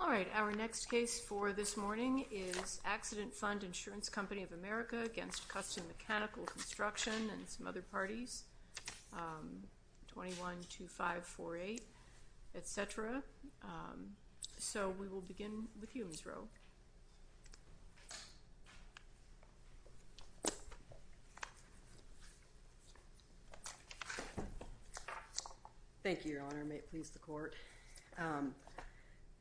All right, our next case for this morning is Accident Fund Insurance Company of America against Custom Mechanical Construction and some other parties, 212548, etc. So we will begin with you, Ms. Rowe. Thank you, Your Honor, and may it please the Court.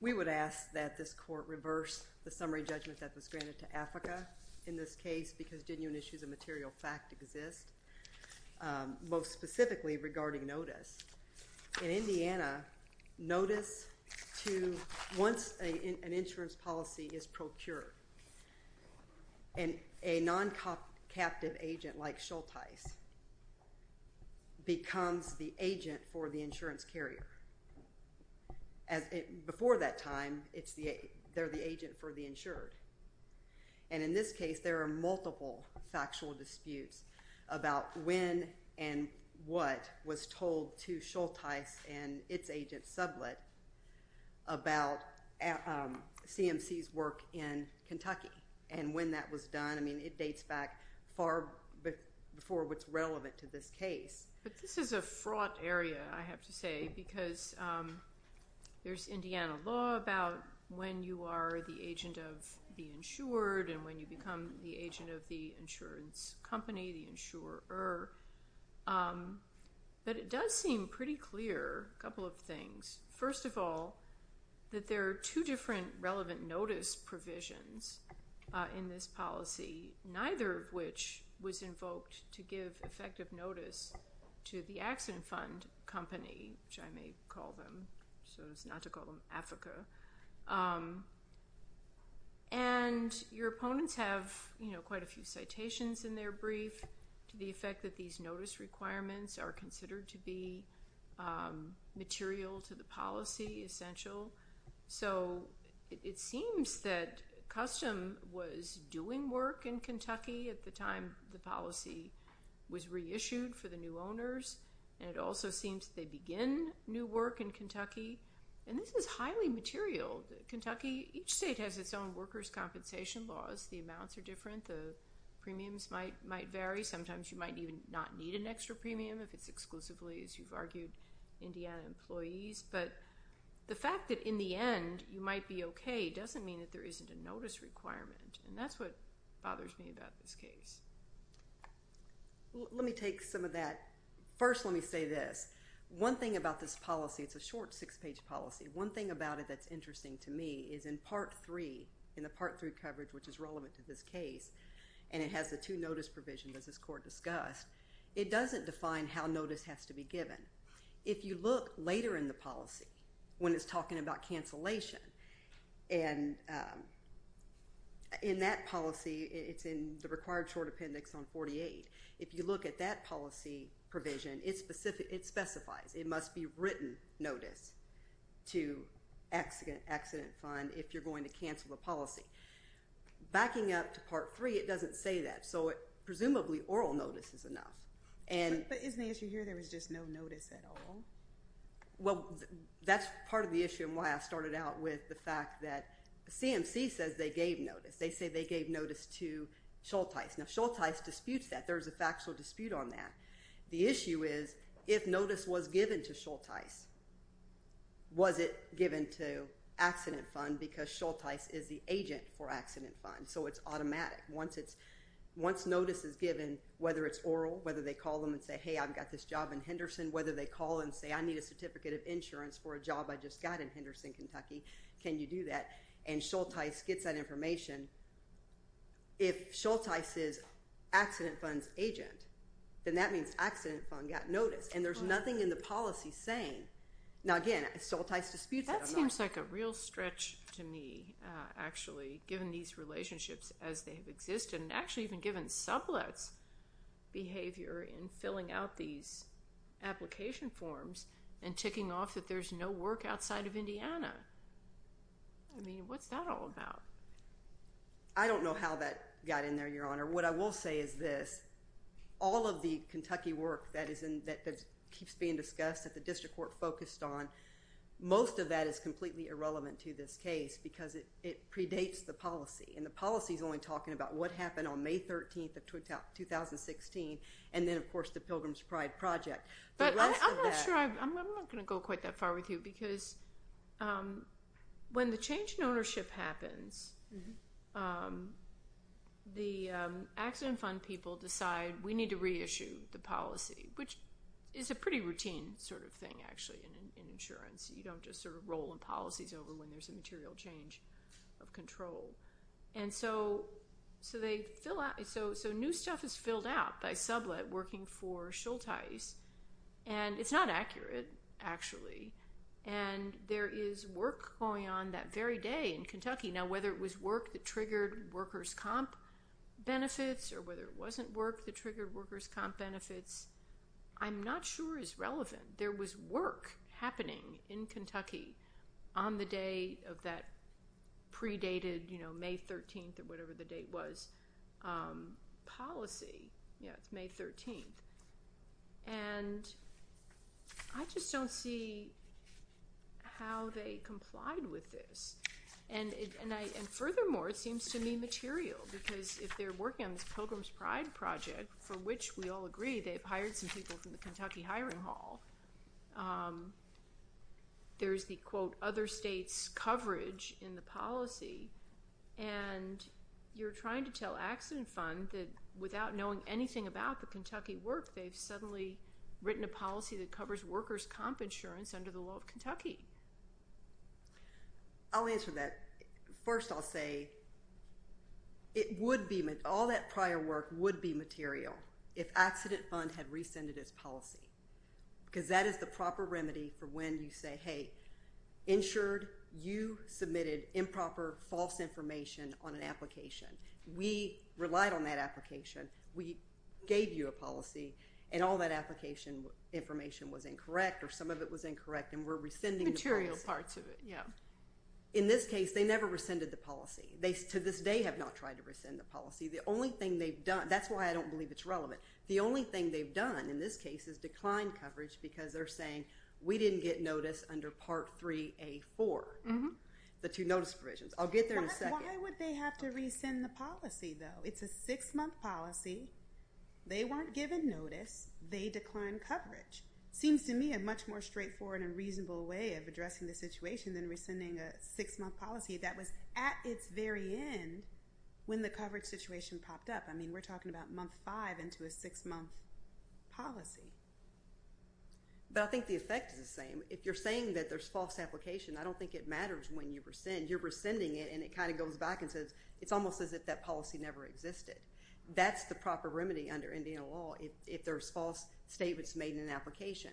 We would ask that this Court reverse the summary judgment that was granted to Africa in this case because genuine issues of material fact exist, most specifically regarding notice. In Indiana, notice to once an insurance policy is procured and a non-captive agent like Schultheis becomes the agent for the insurance carrier. Before that time, they're the agent for the insured. And in this case, there are multiple factual disputes about when and what was told to Schultheis and its agent, Sublett, about CMC's work in Kentucky and when that was done. I mean, it dates back far before what's relevant to this case. But this is a fraught area, I have to say, because there's Indiana law about when you are the agent of the insured and when you become the agent of the insurance company, the insurer. But it does seem pretty clear, a couple of things. First of all, that there are two different relevant notice provisions in this policy, neither of which was invoked to give effective notice to the accident fund company, which I may call them, so as not to call them Africa. And your opponents have quite a few citations in their brief to the effect that these notice requirements are considered to be material to the policy, essential. So it seems that Custom was doing work in Kentucky at the time the policy was reissued for the new owners. And it also seems they begin new work in Kentucky. And this is highly material. Kentucky, each state has its own workers' compensation laws. The amounts are different. The premiums might vary. Sometimes you might even not need an end, you might be okay, doesn't mean that there isn't a notice requirement. And that's what bothers me about this case. Let me take some of that. First, let me say this. One thing about this policy, it's a short six-page policy. One thing about it that's interesting to me is in Part 3, in the Part 3 coverage, which is relevant to this case, and it has the two notice provisions as this court discussed, it doesn't define how notice has to be given. If you look later in the policy, when it's talking about cancellation, and in that policy, it's in the required short appendix on 48. If you look at that policy provision, it specifies, it must be written notice to accident fund if you're going to cancel a policy. Backing up to Part 3, it doesn't say that. So presumably oral notice is enough. But isn't the issue here there was just no notice at all? Well, that's part of the issue and why I started out with the fact that CMC says they gave notice. They say they gave notice to Shultice. Now Shultice disputes that. There's a factual dispute on that. The issue is if notice was given to Shultice, was it given to accident fund because Shultice is the agent for accident fund. So it's automatic. Once notice is given, whether it's oral, whether they call them and say, hey, I've got this job in Henderson, whether they call and say, I need a certificate of insurance for a job I just got in Henderson, Kentucky, can you do that? And Shultice gets that information. If Shultice is accident fund's agent, then that means accident fund got notice. And there's nothing in the policy saying, now again, Shultice disputes it. That seems like a real stretch to me, actually, given these relationships as they've existed and actually even given sublets behavior in filling out these application forms and ticking off that there's no work outside of Indiana. I mean, what's that all about? I don't know how that got in there, Your Honor. What I will say is this. All of the Kentucky work that keeps being discussed at the district court focused on, most of that is completely irrelevant to this case because it predates the policy. And the policy is only talking about what happened on May 13th of 2016 and then, of course, the Pilgrim's Pride project. But I'm not sure. I'm not going to go quite that far with you because when the change in ownership happens, the accident fund people decide we need to reissue the policy, which is a pretty routine sort of thing, actually, in insurance. You don't just sort of roll in policies over when there's a material change of control. So new stuff is filled out by sublet working for Shultice. And it's not accurate, actually. And there is work going on that very day in Kentucky. Now, whether it was work that triggered workers' comp benefits or whether it wasn't work that triggered workers' comp benefits, I'm not sure is on the day of that predated May 13th or whatever the date was policy. Yeah, it's May 13th. And I just don't see how they complied with this. And furthermore, it seems to me material because if they're working on this Pilgrim's Pride project, for which we all agree they've hired some people from the Kentucky hiring hall, there's the, quote, other states' coverage in the policy. And you're trying to tell accident fund that without knowing anything about the Kentucky work, they've suddenly written a policy that covers workers' comp insurance under the law of Kentucky. I'll answer that. First, I'll say all that prior work would be material if accident fund had rescinded its policy. Because that is the proper remedy for when you say, hey, insured, you submitted improper, false information on an application. We relied on that application. We gave you a policy. And all that application information was incorrect or some of it was incorrect. And we're rescinding the policy. Material parts of it, yeah. In this case, they never rescinded the policy. They, to this day, have not tried to rescind the policy. The only thing they've done, that's why I don't believe it's relevant, the only thing they've done in this case is declined coverage because they're saying we didn't get notice under Part 3A.4, the two notice provisions. I'll get there in a second. Why would they have to rescind the policy, though? It's a six-month policy. They weren't given notice. They declined coverage. Seems to me a much more straightforward and reasonable way of addressing the situation than rescinding a six-month policy that was at its very end when the coverage situation popped up. I mean, we're talking about month five into a six-month policy. But I think the effect is the same. If you're saying that there's false application, I don't think it matters when you rescind. You're rescinding it and it kind of goes back and says, it's almost as if that policy never existed. That's the proper remedy under Indian law if there's false statements made in an application.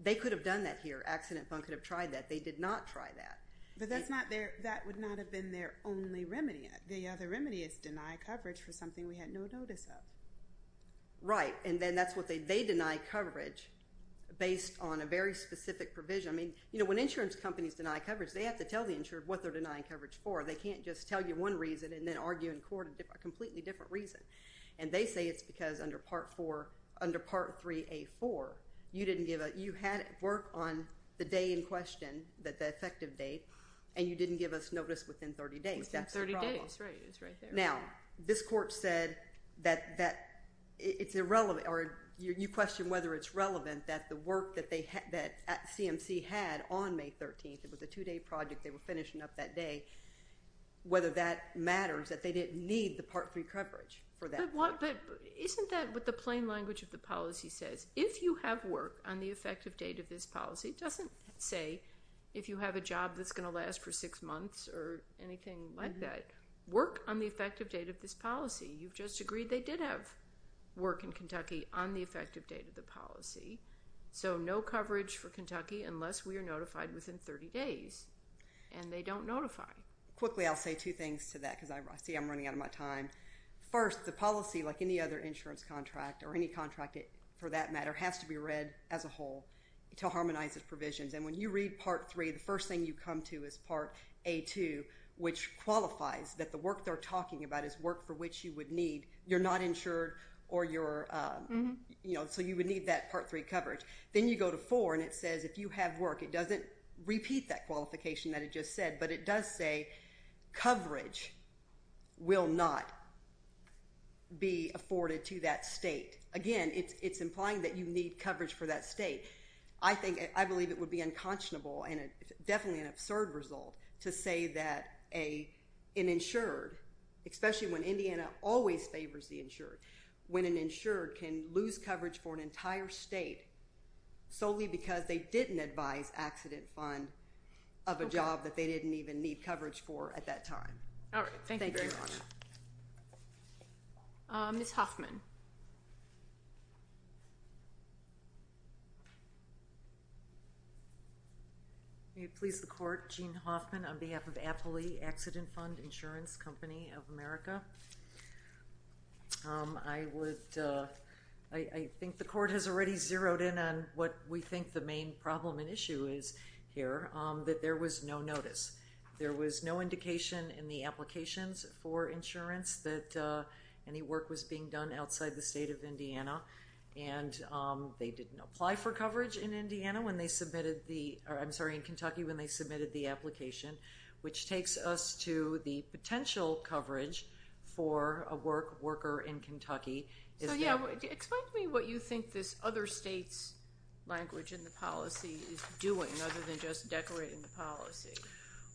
They could have done that here. Accident Fund could have tried that. They did not try that. But that's not their, that would not have been their only remedy. The other remedy is deny coverage for something we had no notice of. Right. And then that's what they, they deny coverage based on a very specific provision. I mean, you know, when insurance companies deny coverage, they have to tell the insured what they're denying coverage for. They can't just tell you one reason and then argue in court a completely different reason. And they say it's because under Part 4, under Part 3A4, you didn't give a, you had work on the day in question, that the effective date, and you didn't give us notice within 30 days. Within 30 days, right. It was right there. Now, this court said that, that it's irrelevant or you question whether it's relevant that the work that they had, that CMC had on May 13th, it was a two-day project, they were finishing up that day, whether that matters that they didn't need the Part 3 coverage for that. But what, but isn't that what the plain language of the policy says? If you have work on the effective date of this policy, it doesn't say if you have a job that's going to last for six months or anything like that. Work on the effective date of this policy. You've just agreed they did have work in Kentucky on the effective date of the policy. So no coverage for Kentucky unless we are notified within 30 days. And they don't notify. Quickly, I'll say two things to that because I see I'm running out of my time. First, the policy, like any other insurance contract or any contract for that matter, has to be read as a whole to harmonize its provisions. And when you read Part 3, the first thing you come to is Part A2, which qualifies that the work they're talking about is work for which you would need. You're not insured or you're, you know, so you would need that Part 3 coverage. Then you go to 4 and it says if you have work. It doesn't repeat that qualification that it just said, but it does say coverage will not be afforded to that state. Again, it's implying that you need coverage for that state. I think, I believe it would be unconscionable and definitely an absurd result to say that an insured, especially when Indiana always favors the insured, when an insured can lose coverage for an entire state solely because they didn't advise accident fund of a job that they didn't even need coverage for at that time. All right. Thank you very much. Ms. Hoffman. May it please the court, Jean Hoffman on behalf of Appley Accident Fund Insurance Company of America. I would, I think the court has already zeroed in on what we think the main problem and issue is here, that there was no notice. There was no indication in the insurance that any work was being done outside the state of Indiana and they didn't apply for coverage in Indiana when they submitted the, or I'm sorry, in Kentucky when they submitted the application, which takes us to the potential coverage for a worker in Kentucky. So yeah, explain to me what you think this other state's language in the policy is doing other than just decorating the policy.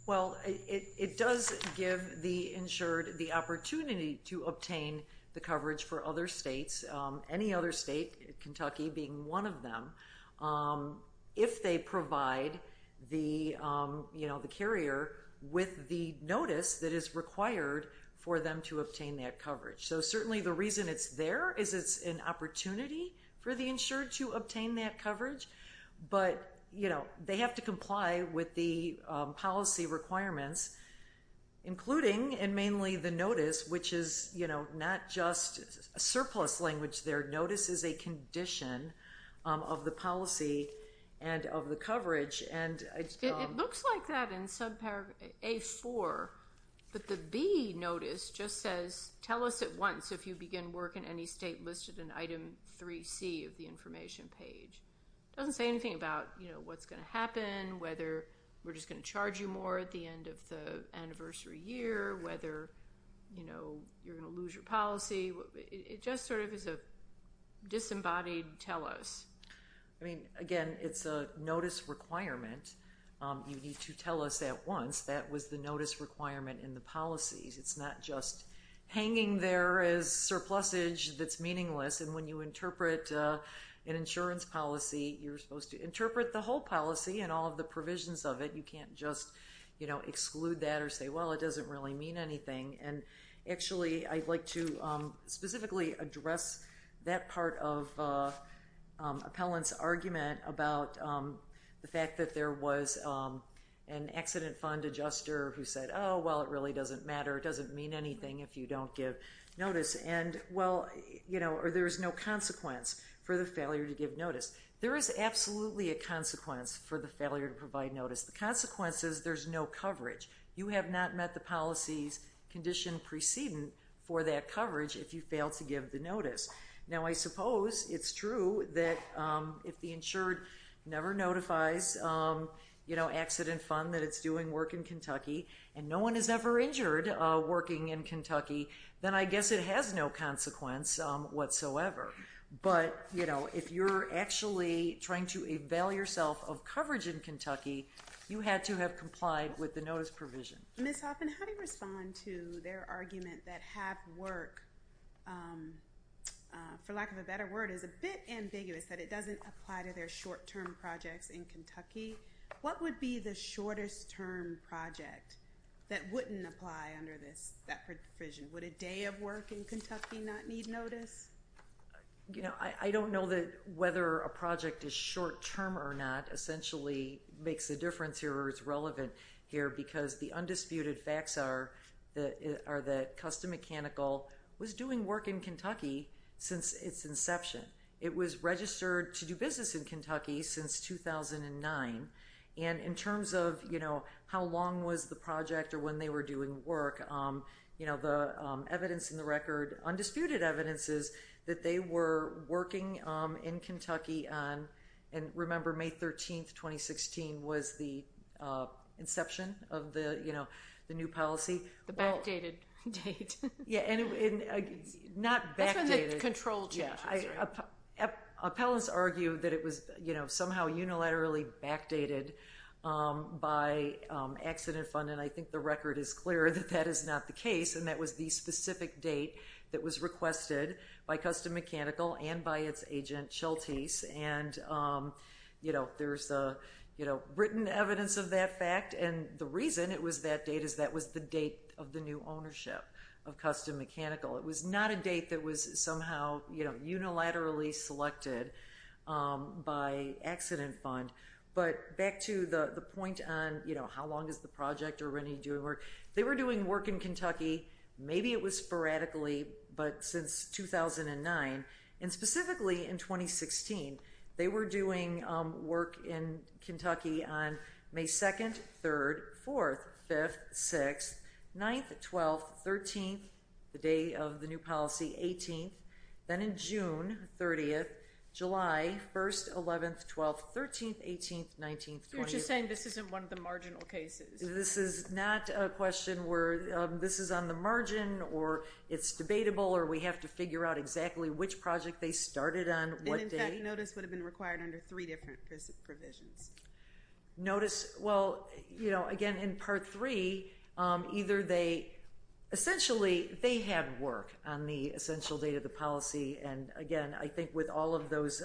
Well, it does give the insured the opportunity to obtain the coverage for other states, any other state, Kentucky being one of them, if they provide the carrier with the notice that is required for them to obtain that coverage. So certainly the reason it's there is it's an opportunity for the insured to obtain that coverage, but they have to comply with the policy requirements, including and mainly the notice, which is not just a surplus language there. Notice is a condition of the policy and of the coverage. It looks like that in sub paragraph A4, but the B notice just says, tell us at once if you begin work in any state listed in item 3C of the information page. It doesn't say anything about what's going to happen, whether we're just going to charge you more at the end of the anniversary year, whether you're going to lose your policy. It just sort of is a disembodied tell us. I mean, again, it's a notice requirement. You need to tell us at once that was the notice requirement in the policies. It's not just hanging there as surplusage that's meaningless, and when you interpret an insurance policy, you're supposed to interpret the whole policy and all of the provisions of it. You can't just exclude that or say, well, it doesn't really mean anything. And actually, I'd like to specifically address that part of Appellant's argument about the fact that there was an accident fund adjuster who said, oh, well, it really doesn't matter. It doesn't mean anything if you don't give notice. And, well, there's no consequence for the failure to give notice. There is absolutely a consequence for the failure to provide notice. The consequence is there's no coverage. You have not met the policy's condition precedent for that coverage if you fail to give the notice. Now, I suppose it's true that if the insured never notifies accident fund that it's doing work in Kentucky and no one is ever injured working in Kentucky, then I guess it has no consequence whatsoever. But, you know, if you're actually trying to avail yourself of coverage in Kentucky, you had to have complied with the notice provision. Ms. Hoffman, how do you respond to their argument that have work, for lack of a better word, is a bit ambiguous, that it doesn't apply to their short-term projects in Kentucky? What would be the shortest-term project that wouldn't apply under this, that provision? Would a day of work in Kentucky not need notice? You know, I don't know that whether a project is short-term or not essentially makes a difference here or is relevant here because the undisputed facts are that Custom Mechanical was doing work in Kentucky since its inception. It was registered to do business in Kentucky since 2009. And in terms of, you know, how long was the project or when they were doing work, you know, the evidence in the record, undisputed evidence is that they were working in Kentucky on, and remember, May 13, 2016 was the inception of the, you know, the new policy. The backdated date. Yeah, and not backdated. That's when the control changes. Appellants argue that it was, you know, somehow unilaterally backdated by accident fund, and I think the record is clear that that is not the case, and that was the specific date that was requested by Custom Mechanical and by its agent, Chiltese. And, you know, there's written evidence of that fact, and the reason it was that date is that was the date of the new ownership of Custom Mechanical. It was not a date that was somehow, you know, unilaterally selected by accident fund, but back to the point on, you know, how long is the project or when are you doing work, they were doing work in Kentucky, maybe it was sporadically, but since 2009, and specifically in 2016, they were doing work in Kentucky on May 2nd, 3rd, 4th, 5th, 6th, 9th, 12th, 13th, the day of the new policy, 18th, then in June 30th, July 1st, 11th, 12th, 13th, 18th, 19th, 20th. You're just saying this isn't one of the marginal cases. This is not a question where this is on the margin or it's debatable or we have to figure out exactly which project they started on what day. And, in fact, notice would have been required under three different provisions. Notice, well, you know, again, in Part 3, either they, essentially, they had work on the essential date of the policy and, again, I think with all of those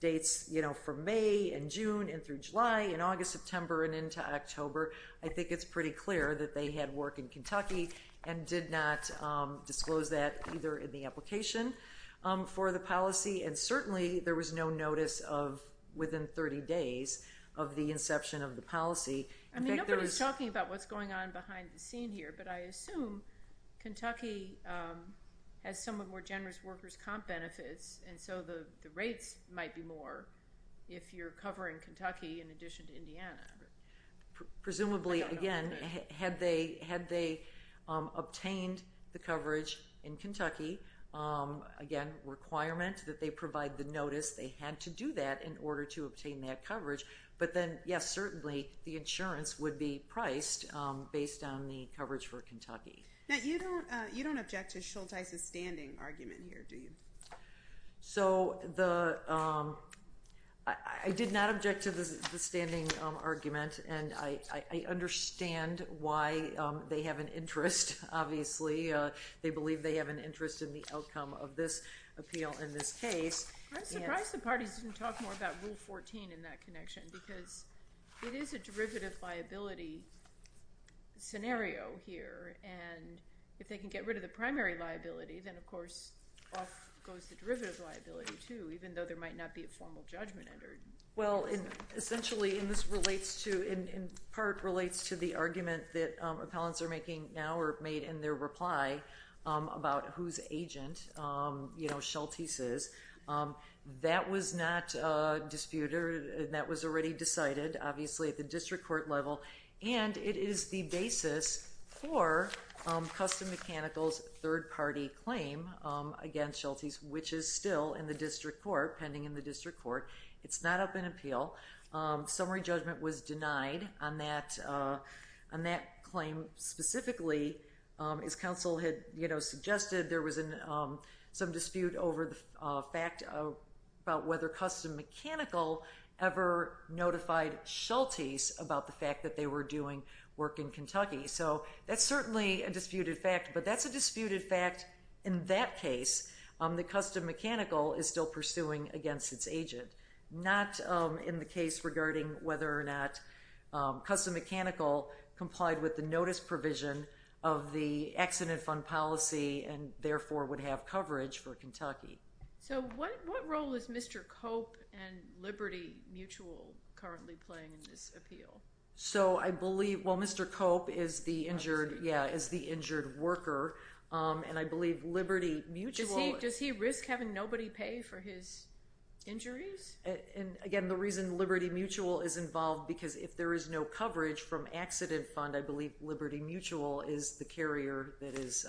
dates, you know, from May and June and through July and August, September, and into October, I think it's pretty clear that they had work in Kentucky and did not disclose that either in the application for the policy and, certainly, there was no notice of within 30 days of the inception of the policy. I mean, nobody's talking about what's going on behind the scene here, but I assume Kentucky has somewhat more generous workers' comp benefits and so the rates might be more Presumably, again, had they obtained the coverage in Kentucky, again, requirement that they provide the notice, they had to do that in order to obtain that coverage, but then, yes, certainly, the insurance would be priced based on the coverage for Kentucky. Now, you don't object to Shultice's standing argument here, do you? So, I did not object to the standing argument and I understand why they have an interest, obviously. They believe they have an interest in the outcome of this appeal in this case. I'm surprised the parties didn't talk more about Rule 14 in that connection because it is a derivative liability scenario here and if they can get rid of the primary liability, then, of course, off goes the derivative liability, too, even though there might not be a formal judgment under it. Well, essentially, and this relates to, in part, relates to the argument that appellants are making now or made in their reply about whose agent, you know, Shultice is. That was not disputed. That was already decided, obviously, at the district court level and it is the basis for Custom Mechanical's third-party claim against Shultice, which is still in the district court, pending in the district court. It's not up in appeal. Summary judgment was denied on that claim specifically. As counsel had, you know, suggested, there was some dispute over the fact about whether Custom Mechanical ever notified Shultice about the fact that they were doing work in Kentucky. So that's certainly a disputed fact, but that's a disputed fact in that case that Custom Mechanical is still pursuing against its agent. Not in the case regarding whether or not Custom Mechanical complied with the notice provision of the accident fund policy and, therefore, would have coverage for Kentucky. So what role is Mr. Cope and Liberty Mutual currently playing in this appeal? So I believe, well, Mr. Cope is the injured worker, and I believe Liberty Mutual Does he risk having nobody pay for his injuries? Again, the reason Liberty Mutual is involved, because if there is no coverage from accident fund, I believe Liberty Mutual is the carrier that is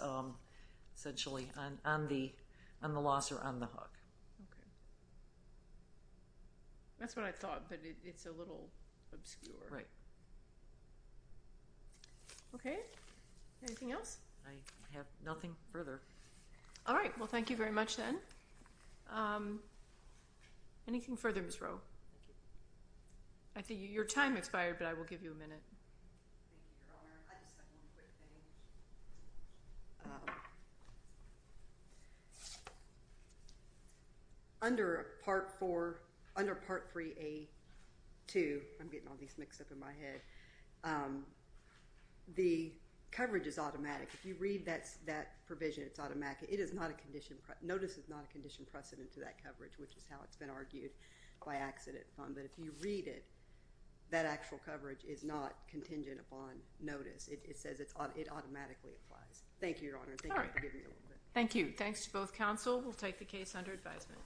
essentially on the loss or on the hook. Okay. That's what I thought, but it's a little obscure. Right. Okay. Anything else? I have nothing further. All right. Well, thank you very much, then. Anything further, Ms. Rowe? Thank you. I think your time expired, but I will give you a minute. Thank you, Your Honor. I just have one quick thing. Under Part 3A-2, I'm getting all these mixed up in my head, the coverage is automatic. If you read that provision, it's automatic. It is not a condition. Notice is not a condition precedent to that coverage, which is how it's been argued by accident fund. But if you read it, that actual coverage is not contingent upon notice. It says it automatically applies. Thank you, Your Honor. Thank you for giving me a little bit. Thank you. Thanks to both counsel. We'll take the case under advisement.